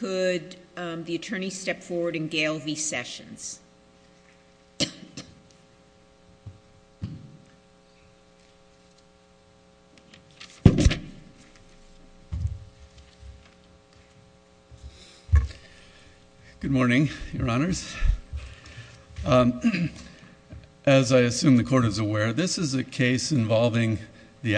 Good morning, your honors. As I assume the court is aware, this is a case involving the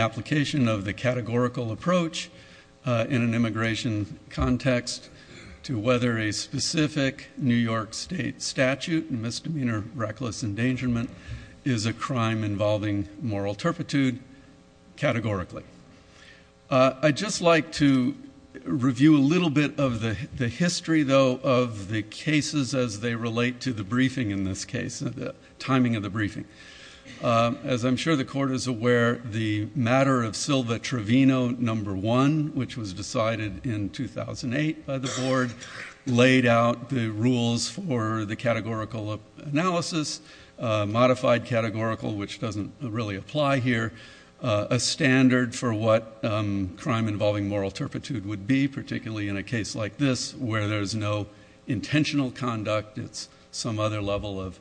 whether a specific New York state statute, misdemeanor reckless endangerment, is a crime involving moral turpitude categorically. I'd just like to review a little bit of the history though of the cases as they relate to the briefing in this case, the timing of the briefing. As I'm sure the court is aware, the matter of Silva Trevino No. 1, which was decided in 2008 by the board, laid out the rules for the categorical analysis, modified categorical, which doesn't really apply here, a standard for what crime involving moral turpitude would be, particularly in a case like this where there's no intentional conduct, it's some other level of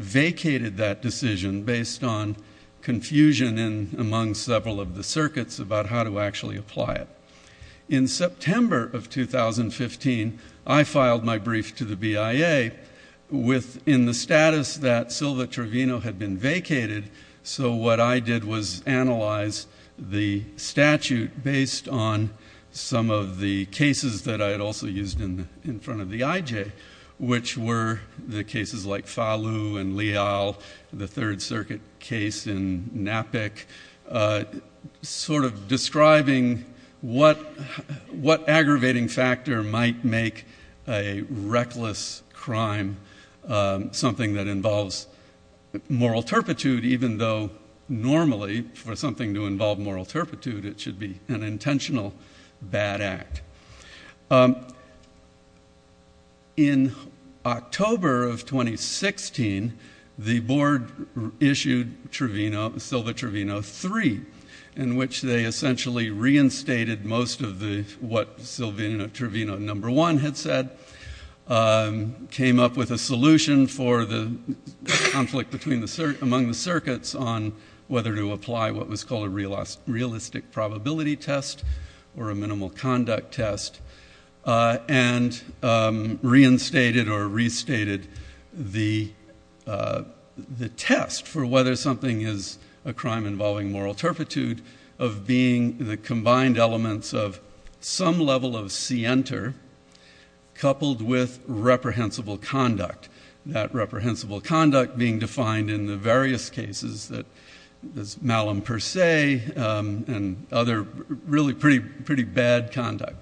vacated that decision based on confusion among several of the circuits about how to actually apply it. In September of 2015, I filed my brief to the BIA within the status that Silva Trevino had been vacated, so what I did was analyze the statute based on some of the cases that I had used in front of the IJ, which were the cases like Falu and Leal, the Third Circuit case in NAPIC, sort of describing what aggravating factor might make a reckless crime something that involves moral turpitude even though normally for something to involve moral turpitude it should be an aggravating factor. In October of 2016, the board issued Silva Trevino 3, in which they essentially reinstated most of what Silva Trevino No. 1 had said, came up with a solution for the conflict among the circuits on whether to apply what was called a realistic probability test or a minimal conduct test, and reinstated or restated the test for whether something is a crime involving moral turpitude of being the combined elements of some level of scienter coupled with reprehensible conduct, that reprehensible conduct being defined in the pretty bad conduct.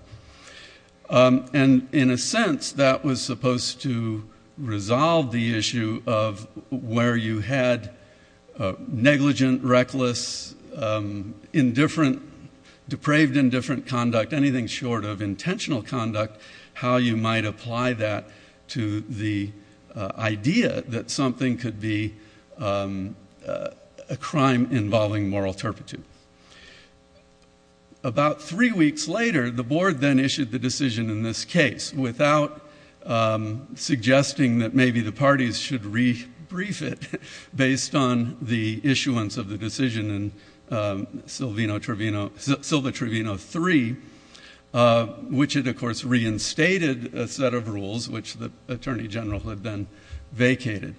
And in a sense, that was supposed to resolve the issue of where you had negligent, reckless, depraved, indifferent conduct, anything short of intentional conduct, how you might apply that to the idea that something could be a crime involving moral turpitude. About three weeks later, the board then issued the decision in this case without suggesting that maybe the parties should re-brief it based on the issuance of the decision in Silva Trevino 3, which had of course reinstated a set of rules which the Attorney General had then vacated.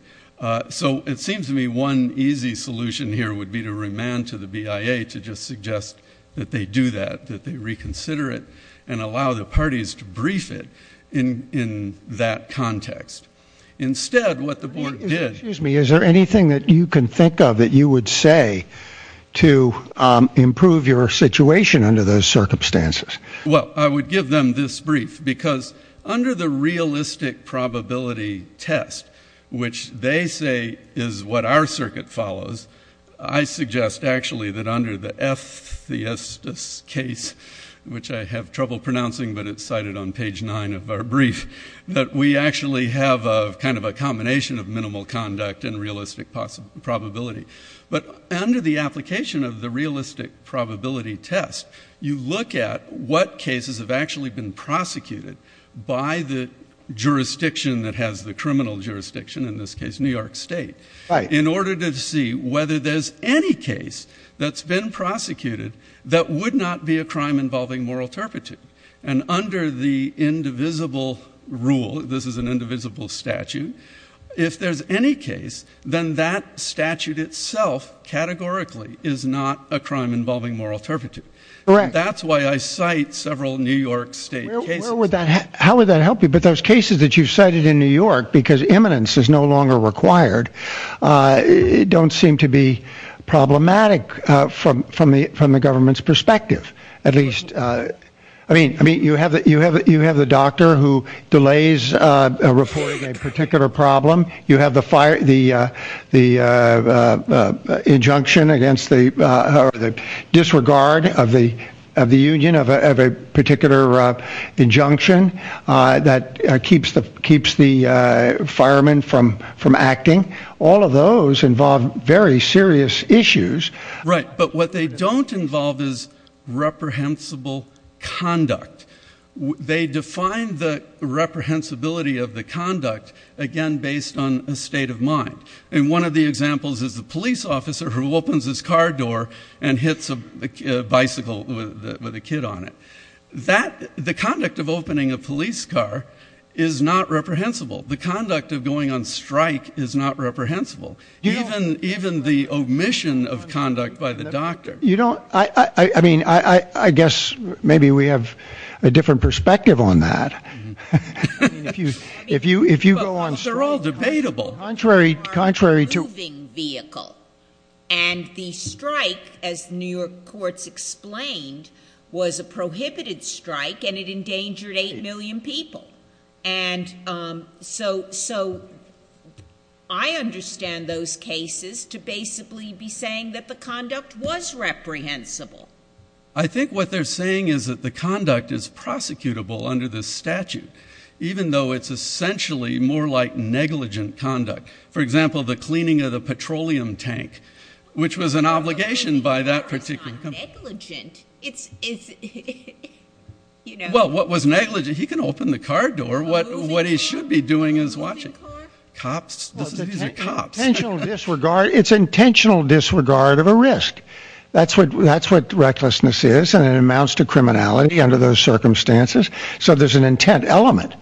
So it seems to me one easy solution here would be to remand to the BIA to just suggest that they do that, that they reconsider it and allow the parties to brief it in that context. Instead, what the board did... Excuse me, is there anything that you can think of that you would say to improve your situation under those circumstances? Well, I would give them this brief because under the realistic probability test, which they say is what our circuit follows, I suggest actually that under the F. Theistos case, which I have trouble pronouncing but it's cited on page 9 of our brief, that we actually have kind of a combination of minimal conduct and realistic probability. But under the application of the realistic probability test, you look at what cases have actually been prosecuted by the jurisdiction that has the criminal jurisdiction, in this case, New York State, in order to see whether there's any case that's been prosecuted that would not be a crime involving moral turpitude. And under the indivisible rule, this is an indivisible statute, if there's any case, then that statute itself categorically is not a crime involving moral turpitude. Correct. That's why I cite several New York State cases. How would that help you? But those cases that you've cited in New York, because eminence is no longer required, don't seem to be problematic from the government's perspective, at least. I mean, you have the doctor who delays reporting a particular problem. You have the injunction against the disregard of the union, of a particular injunction that keeps the fireman from acting. All of those involve very serious issues. Right. But what they don't involve is reprehensible conduct. They define the reprehensibility of the conduct, again, based on a state of mind. And one of the examples is the police officer who opens his car door and hits a bicycle with a kid on it. The conduct of opening a police car is not reprehensible. The conduct of going on strike is not reprehensible. Even the omission of conduct by the doctor. You don't, I mean, I guess maybe we have a different perspective on that. If you go on strike. They're all debatable. Contrary to. A moving vehicle. And the strike, as New York courts explained, was a prohibited strike and it endangered eight million people. And so I understand those cases to basically be saying that the conduct was reprehensible. I think what they're saying is that the conduct is prosecutable under this statute, even though it's essentially more like negligent conduct. For example, the cleaning of the petroleum tank, which was an obligation by that particular. Well, what was negligent? He can open the car door. What he should be doing is watching cops. Intentional disregard. It's intentional disregard of a risk. That's what that's what recklessness is. And it amounts to criminality under those circumstances. So there's an intent element.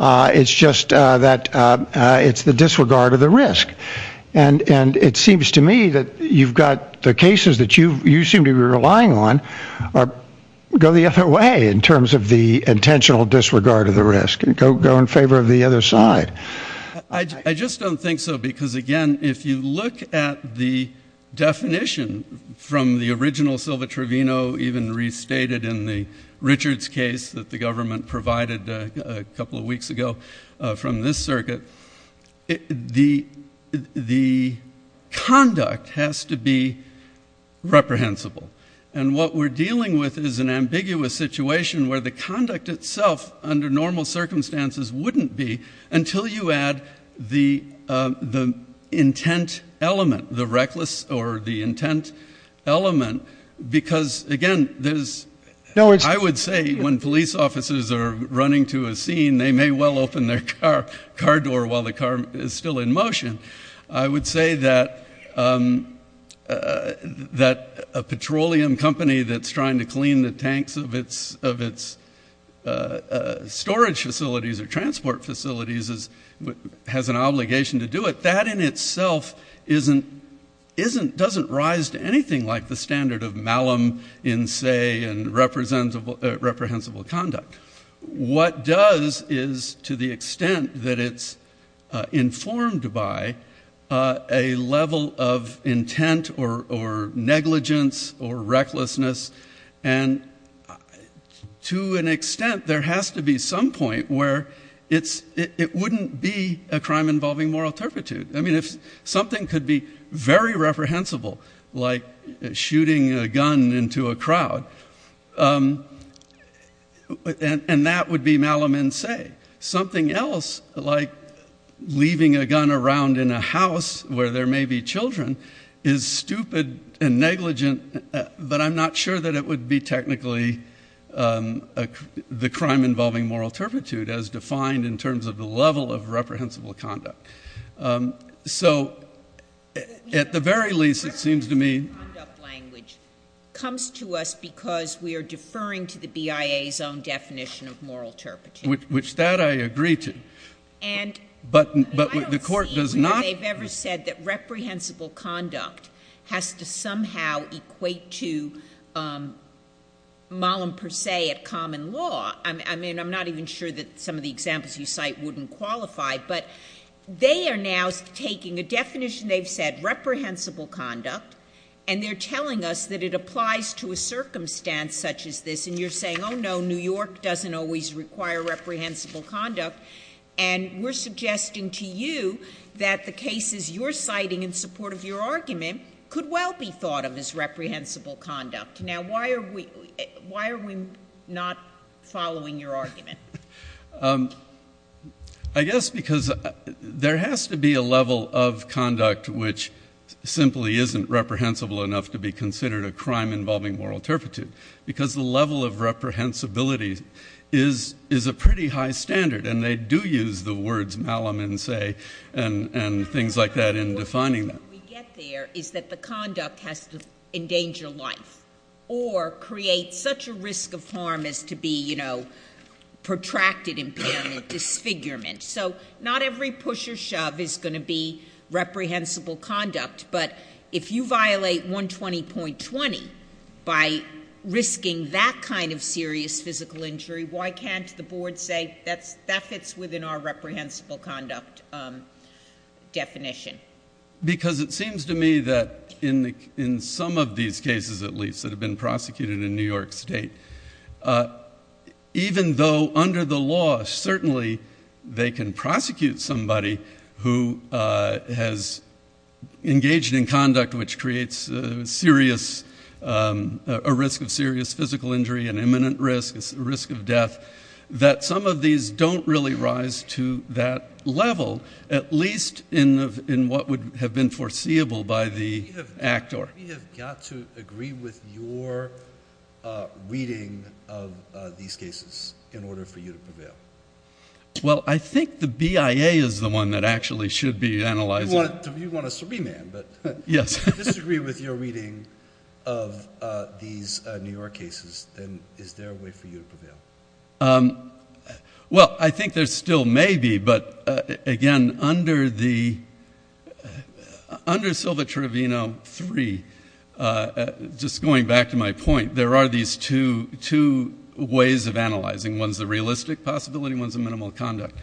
It's just that it's the disregard of the risk. And it seems to me that you've got the cases that you seem to be relying on or go the other way in terms of the intentional disregard of the risk and go in favor of the other side. I just don't think so, because again, if you look at the definition from the original Silva Trevino, even restated in the Richards case that the government provided a couple of weeks ago from this circuit, the the conduct has to be reprehensible. And what we're dealing with is an ambiguous situation where the conduct itself under normal circumstances wouldn't be until you add the the intent element, the reckless or the intent element. Because again, there's I would say when police officers are running to a scene, they may well open their car car door while the car is still in motion. I would say that that a petroleum company that's trying to clean the tanks of its storage facilities or transport facilities has an obligation to do it. That in itself doesn't rise to anything like the standard of malum in say and reprehensible conduct. What does is to the extent that it's and to an extent there has to be some point where it's it wouldn't be a crime involving moral turpitude. I mean, if something could be very reprehensible, like shooting a gun into a crowd, and that would be malum in say. Something else, like leaving a gun around in a house where there not sure that it would be technically the crime involving moral turpitude as defined in terms of the level of reprehensible conduct. So at the very least, it seems to me. Comes to us because we are deferring to the BIA's own definition of moral turpitude. Which that I agree to. But the court does not. They've ever said that reprehensible conduct has to somehow equate to malum per se at common law. I mean, I'm not even sure that some of the examples you cite wouldn't qualify, but they are now taking a definition. They've said reprehensible conduct and they're telling us that it applies to a circumstance such as this. And you're saying, oh no, New York doesn't always require reprehensible conduct. And we're suggesting to you that the cases you're citing in support of your argument could well be thought of as reprehensible conduct. Now why are we not following your argument? I guess because there has to be a level of conduct which simply isn't reprehensible enough to be considered a crime involving moral turpitude. Because the level of reprehensibility is a pretty high standard. And they do use the words malum and say, and things like that in defining them. What we get there is that the conduct has to endanger life. Or create such a risk of harm as to be, you know, protracted impairment, disfigurement. So not every push or shove is going to be reprehensible conduct. But if you violate 120.20 by risking that kind of serious physical injury, why can't the board say that fits within our reprehensible conduct definition? Because it seems to me that in some of these cases at least that have been prosecuted in New York State, even though under the law certainly they can prosecute somebody who has engaged in conduct which creates a serious, a risk of serious physical injury, an imminent risk, a risk of death, that some of these don't really rise to that level, at least in what would have been foreseeable by the actor. We have got to agree with your reading of these cases in order for you to prevail. Well, I think the BIA is the one that actually should be analyzing. You want a subreman, but if you disagree with your reading of these New York cases, well, I think there still may be, but again, under Silva-Trevino 3, just going back to my point, there are these two ways of analyzing. One is the realistic possibility, one is the minimal conduct.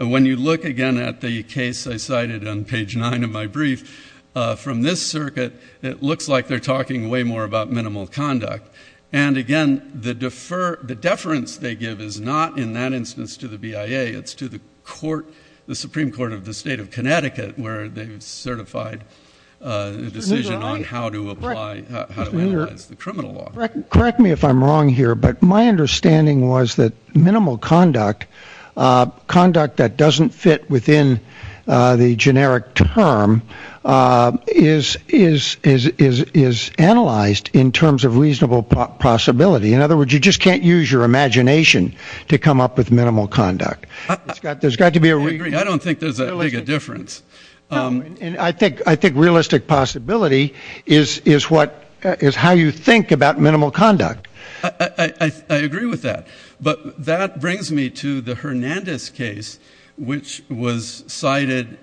When you look again at the case I cited on page 9 of my brief, from this circuit it looks like they are talking way more about minimal conduct, and again, the deference they give is not in that instance to the BIA, it's to the Supreme Court of the State of Connecticut where they have certified a decision on how to analyze the criminal law. Correct me if I'm wrong here, but my understanding was that minimal conduct, conduct that doesn't fit within the generic term, is analyzed in terms of reasonable possibility. In other words, you just can't use your imagination to come up with minimal conduct. I don't think there's a big difference. And I think realistic possibility is how you think about minimal conduct. I agree with that, but that brings me to the Hernandez case, which was cited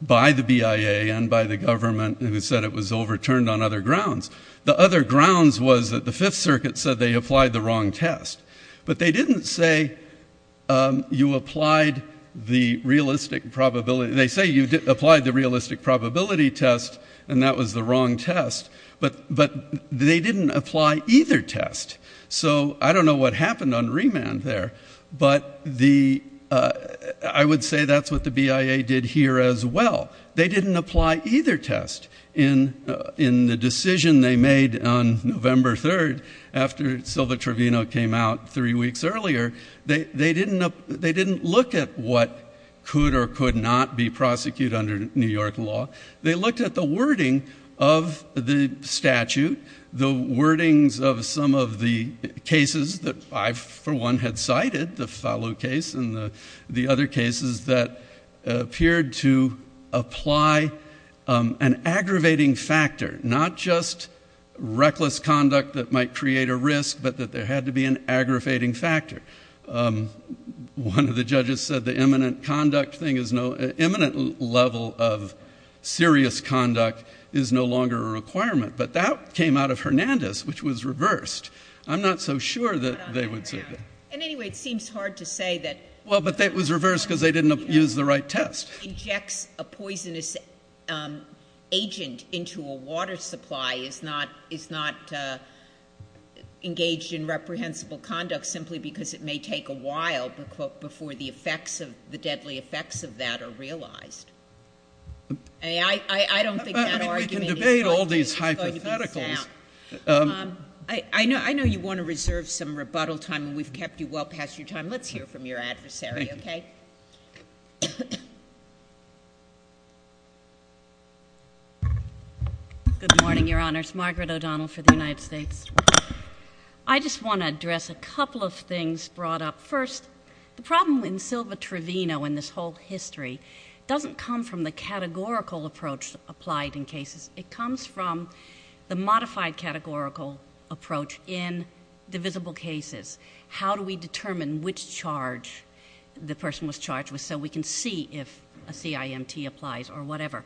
by the BIA and by the government who said it was overturned on other grounds. The other grounds was that the Fifth Circuit said they applied the wrong test, but they didn't say you applied the realistic probability, they say you applied the realistic probability test and that was the wrong test, but they didn't apply either test. So I don't know what happened on remand there, but I would say that's what the BIA did here as well. They didn't apply either test in the decision they made on November 3rd after Silva Trevino came out three weeks earlier. They didn't look at what could or could not be prosecuted under New York law. They looked at the wording of the statute, the wordings of some of the cases that I, for one, had cited, the Fallot case and the other cases that appeared to apply an aggravating factor, not just reckless conduct that might create a risk, but that there had to be an aggravating factor. One of the judges said the imminent conduct thing is no— imminent level of serious conduct is no longer a requirement, but that came out of Hernandez, which was reversed. I'm not so sure that they would say that. And anyway, it seems hard to say that— Well, but that was reversed because they didn't use the right test. —injects a poisonous agent into a water supply is not engaged in reprehensible conduct simply because it may take a while before the effects of— the deadly effects of that are realized. I mean, I don't think that argument is going to be sound. But, I mean, we can debate all these hypotheticals. I know you want to reserve some rebuttal time, and we've kept you well past your time. Let's hear from your adversary, okay? Good morning, Your Honors. Margaret O'Donnell for the United States. I just want to address a couple of things brought up. First, the problem in Silva-Trevino and this whole history doesn't come from the categorical approach applied in cases. It comes from the modified categorical approach in divisible cases. How do we determine which charge the person was charged with so we can see if a CIMT applies or whatever?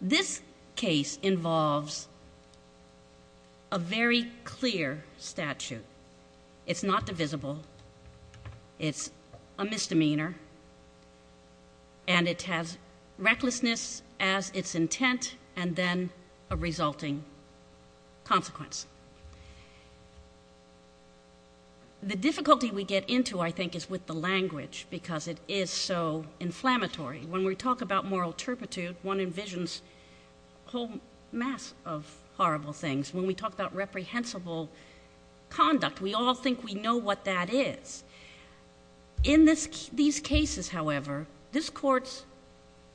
This case involves a very clear statute. It's not divisible. It's a misdemeanor. And it has recklessness as its intent and then a resulting consequence. The difficulty we get into, I think, is with the language because it is so inflammatory. When we talk about moral turpitude, one envisions a whole mass of horrible things. When we talk about reprehensible conduct, we all think we know what that is. In these cases, however, this court's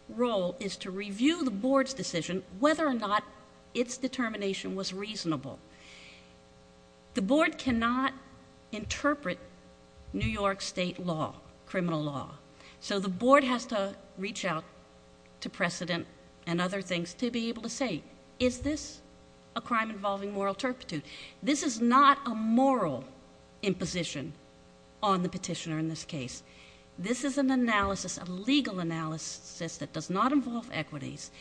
role is to review the board's decision whether or not its determination was reasonable. The board cannot interpret New York state law, criminal law. So the board has to reach out to precedent and other things to be able to say, is this a crime involving moral turpitude? This is not a moral imposition on the petitioner in this case. This is an analysis, a legal analysis that does not involve equities.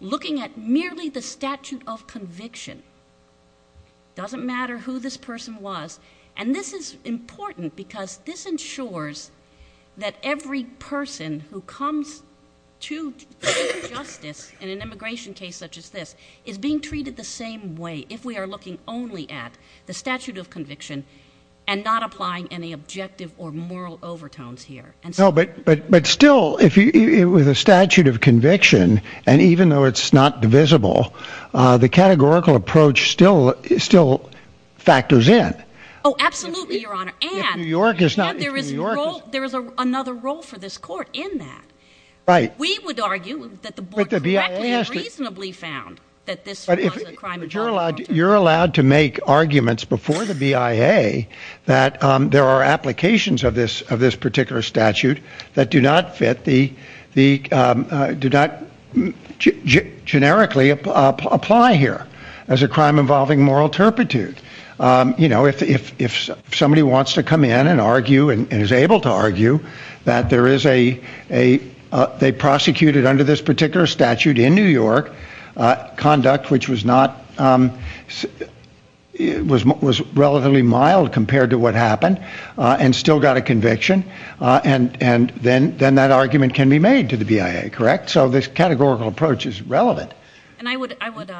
Looking at merely the statute of conviction doesn't matter who this person was. And this is important because this ensures that every person who comes to justice in an immigration case such as this is being treated the same way if we are looking only at the statute of conviction and not applying any objective or moral overtones here. But still, with a statute of conviction, and even though it's not divisible, the categorical approach still factors in. Oh, absolutely, Your Honor. And there is another role for this court in that. We would argue that the board correctly and reasonably found that this was a crime involving moral turpitude. You're allowed to make arguments before the BIA that there are applications of this particular statute that do not fit, do not generically apply here as a crime involving moral turpitude. You know, if somebody wants to come in and argue and is able to argue that there is a they prosecuted under this particular statute in New York, conduct which was not, was relatively mild compared to what happened, and still got a conviction, and then that argument can be made to the BIA, correct? So this categorical approach is relevant. And I would, I would.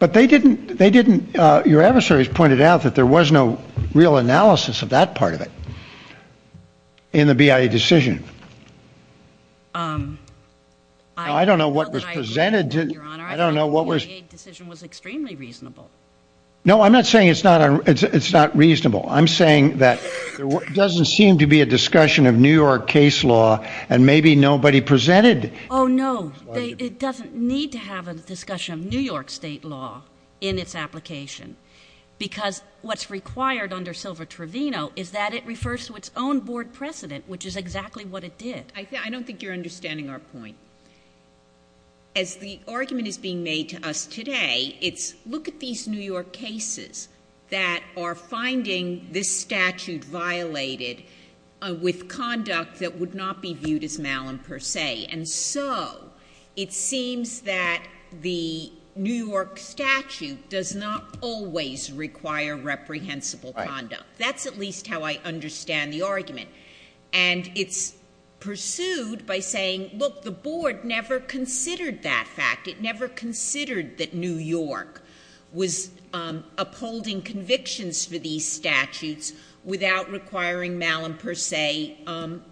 But they didn't, they didn't, your adversaries pointed out that there was no real analysis of that part of it in the BIA decision. Um, I don't know what was presented to, Your Honor. I don't know what was, The BIA decision was extremely reasonable. No, I'm not saying it's not, it's not reasonable. I'm saying that there doesn't seem to be a discussion of New York case law, and maybe nobody presented. Oh, no, it doesn't need to have a discussion of New York state law in its application. Because what's required under Silva-Trovino is that it refers to its own board precedent, which is exactly what it did. I don't think you're understanding our point. As the argument is being made to us today, it's look at these New York cases that are finding this statute violated with conduct that would not be viewed as malign per se. And so, it seems that the New York statute does not always require reprehensible conduct. And it's pursued by saying, look, the board never considered that fact. It never considered that New York was, um, upholding convictions for these statutes without requiring malign per se, um,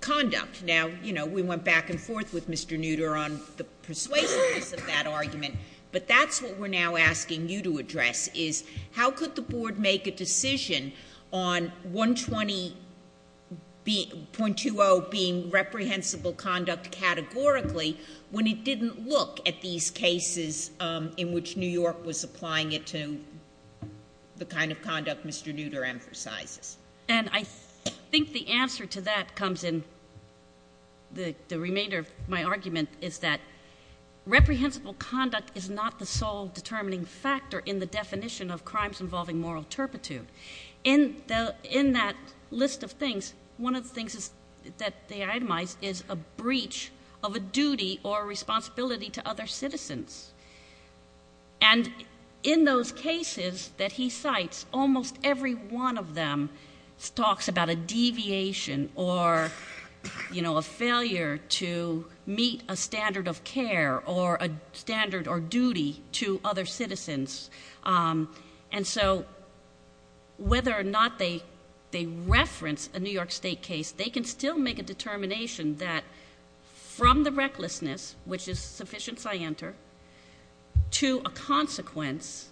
conduct. Now, you know, we went back and forth with Mr. Nutter on the persuasiveness of that argument, but that's what we're now asking you to address is how could the board make a decision on 120.20 being reprehensible conduct categorically when it didn't look at these cases, um, in which New York was applying it to the kind of conduct Mr. Nutter emphasizes. And I think the answer to that comes in the remainder of my argument is that reprehensible conduct is not the sole determining factor in the definition of in that list of things. One of the things that they itemize is a breach of a duty or responsibility to other citizens. And in those cases that he cites, almost every one of them talks about a deviation or, you know, a failure to meet a standard of care or a standard or duty to other citizens. Um, and so whether or not they, they reference a New York state case, they can still make a determination that from the recklessness, which is sufficiency I enter, to a consequence,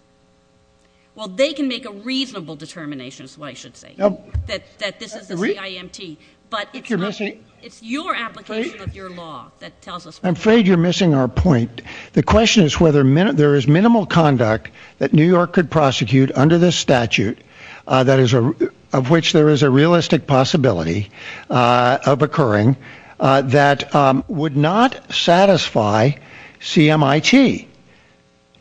well, they can make a reasonable determination. That's why I should say that this is a CIMT, but it's your application of your law that tells us. I'm afraid you're missing our point. The question is whether there is minimal conduct that New York could prosecute under this statute, that is, of which there is a realistic possibility of occurring that would not satisfy CIMT.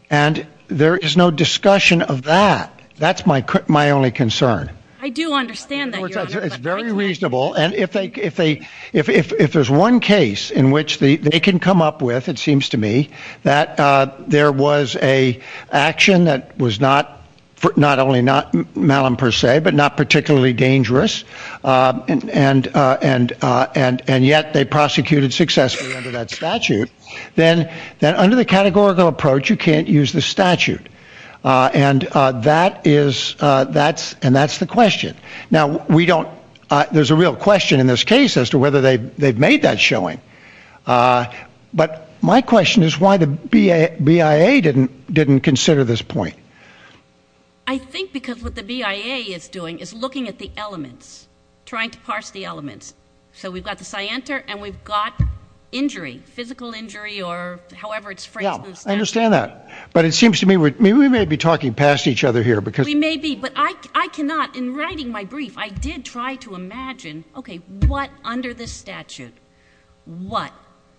And there is no discussion of that. That's my only concern. I do understand that. It's very reasonable. And if they, if they, if, if, if there's one case in which they can come up with, it seems to me, that, uh, there was a action that was not, not only not malum per se, but not particularly dangerous, uh, and, uh, and, uh, and, and yet they prosecuted successfully under that statute, then, then under the categorical approach, you can't use the statute. Uh, and, uh, that is, uh, that's, and that's the question. Now we don't, uh, there's a real question in this case as to whether they've, they've made that showing. Uh, but my question is why the BIA didn't, didn't consider this point. I think because what the BIA is doing is looking at the elements, trying to parse the elements. So we've got the scienter and we've got injury, physical injury, or however it's phrased. I understand that, but it seems to me, we may be talking past each other here because we may be, but I, I cannot in writing my brief, I did try to imagine, okay, what under this statute, what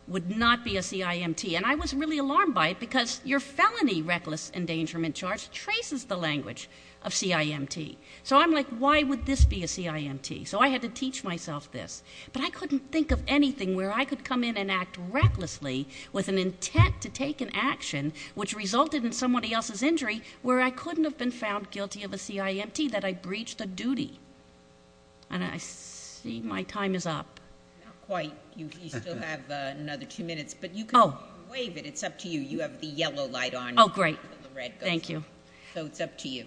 would not be a CIMT? And I was really alarmed by it because your felony reckless endangerment charge traces the language of CIMT. So I'm like, why would this be a CIMT? So I had to teach myself this, but I couldn't think of anything where I could come in and act recklessly with an intent to take an action, which resulted in somebody else's injury, where I couldn't have been found guilty of a CIMT that I breached the duty. And I see my time is up. Not quite. You still have another two minutes, but you can wave it. It's up to you. You have the yellow light on. Oh, great. Thank you. So it's up to you.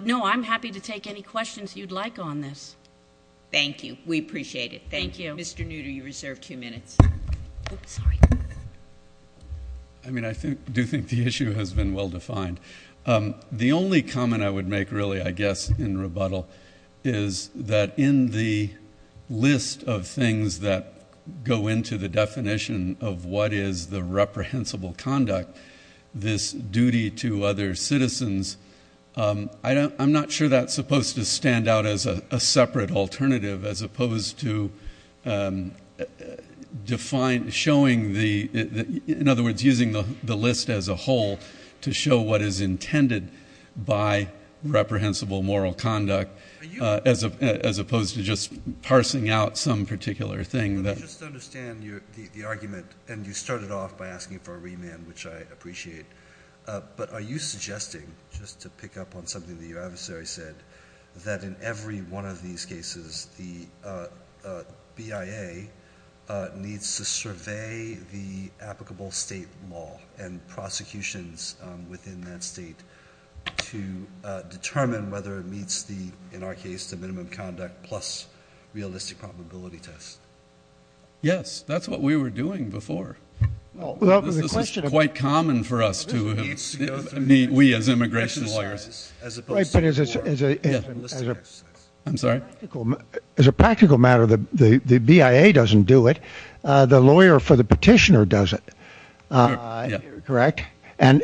No, I'm happy to take any questions you'd like on this. Thank you. We appreciate it. Thank you. Mr. Nutter, you reserve two minutes. Sorry. I mean, I do think the issue has been well defined. The only comment I would make really, I guess, in rebuttal is that in the list of things that go into the definition of what is the reprehensible conduct, this duty to other citizens, I'm not sure that's supposed to stand out as a separate alternative as opposed to define, showing the, in other words, using the list as a whole to show what is intended by reprehensible moral conduct as opposed to just parsing out some particular thing. Let me just understand the argument. And you started off by asking for a remand, which I appreciate. But are you suggesting, just to pick up on something that your adversary said, that in every one of these cases, the BIA needs to survey the applicable state law and prosecutions within that state to determine whether it meets the, in our case, the minimum conduct plus realistic probability test? Yes. That's what we were doing before. Quite common for us to meet, we as immigration lawyers. But as a practical matter, the BIA doesn't do it. The lawyer for the petitioner does it. Correct. And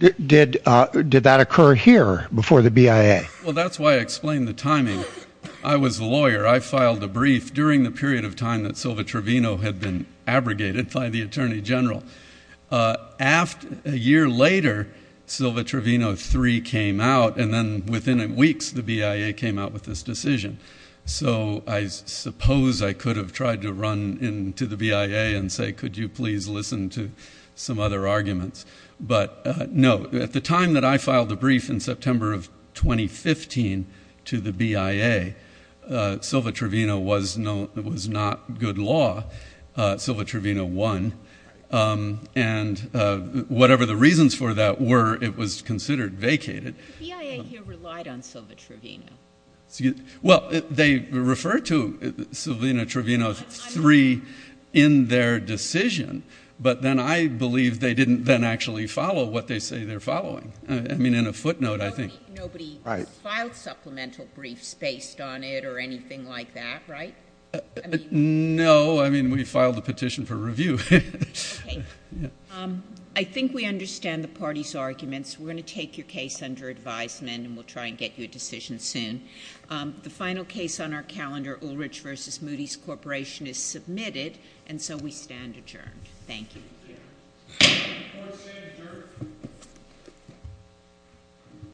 did that occur here before the BIA? Well, that's why I explained the timing. I was a lawyer. I filed a brief during the period of time that Silva Trevino had been abrogated by the attorney general. A year later, Silva Trevino 3 came out. And then within weeks, the BIA came out with this decision. So I suppose I could have tried to run into the BIA and say, could you please listen to some other arguments? But no. At the time that I filed the brief in September of 2015 to the BIA, Silva Trevino was not good law. Silva Trevino won. And whatever the reasons for that were, it was considered vacated. But the BIA here relied on Silva Trevino. Well, they referred to Silva Trevino 3 in their decision. But then I believe they didn't then actually follow what they say they're following. I mean, in a footnote, I think. Nobody filed supplemental briefs based on it or anything like that, right? No. I mean, we filed a petition for review. Yeah. I think we understand the party's arguments. We're going to take your case under advisement. And we'll try and get you a decision soon. The final case on our calendar, Ulrich v. Moody's Corporation, is submitted. And so we stand adjourned. Thank you.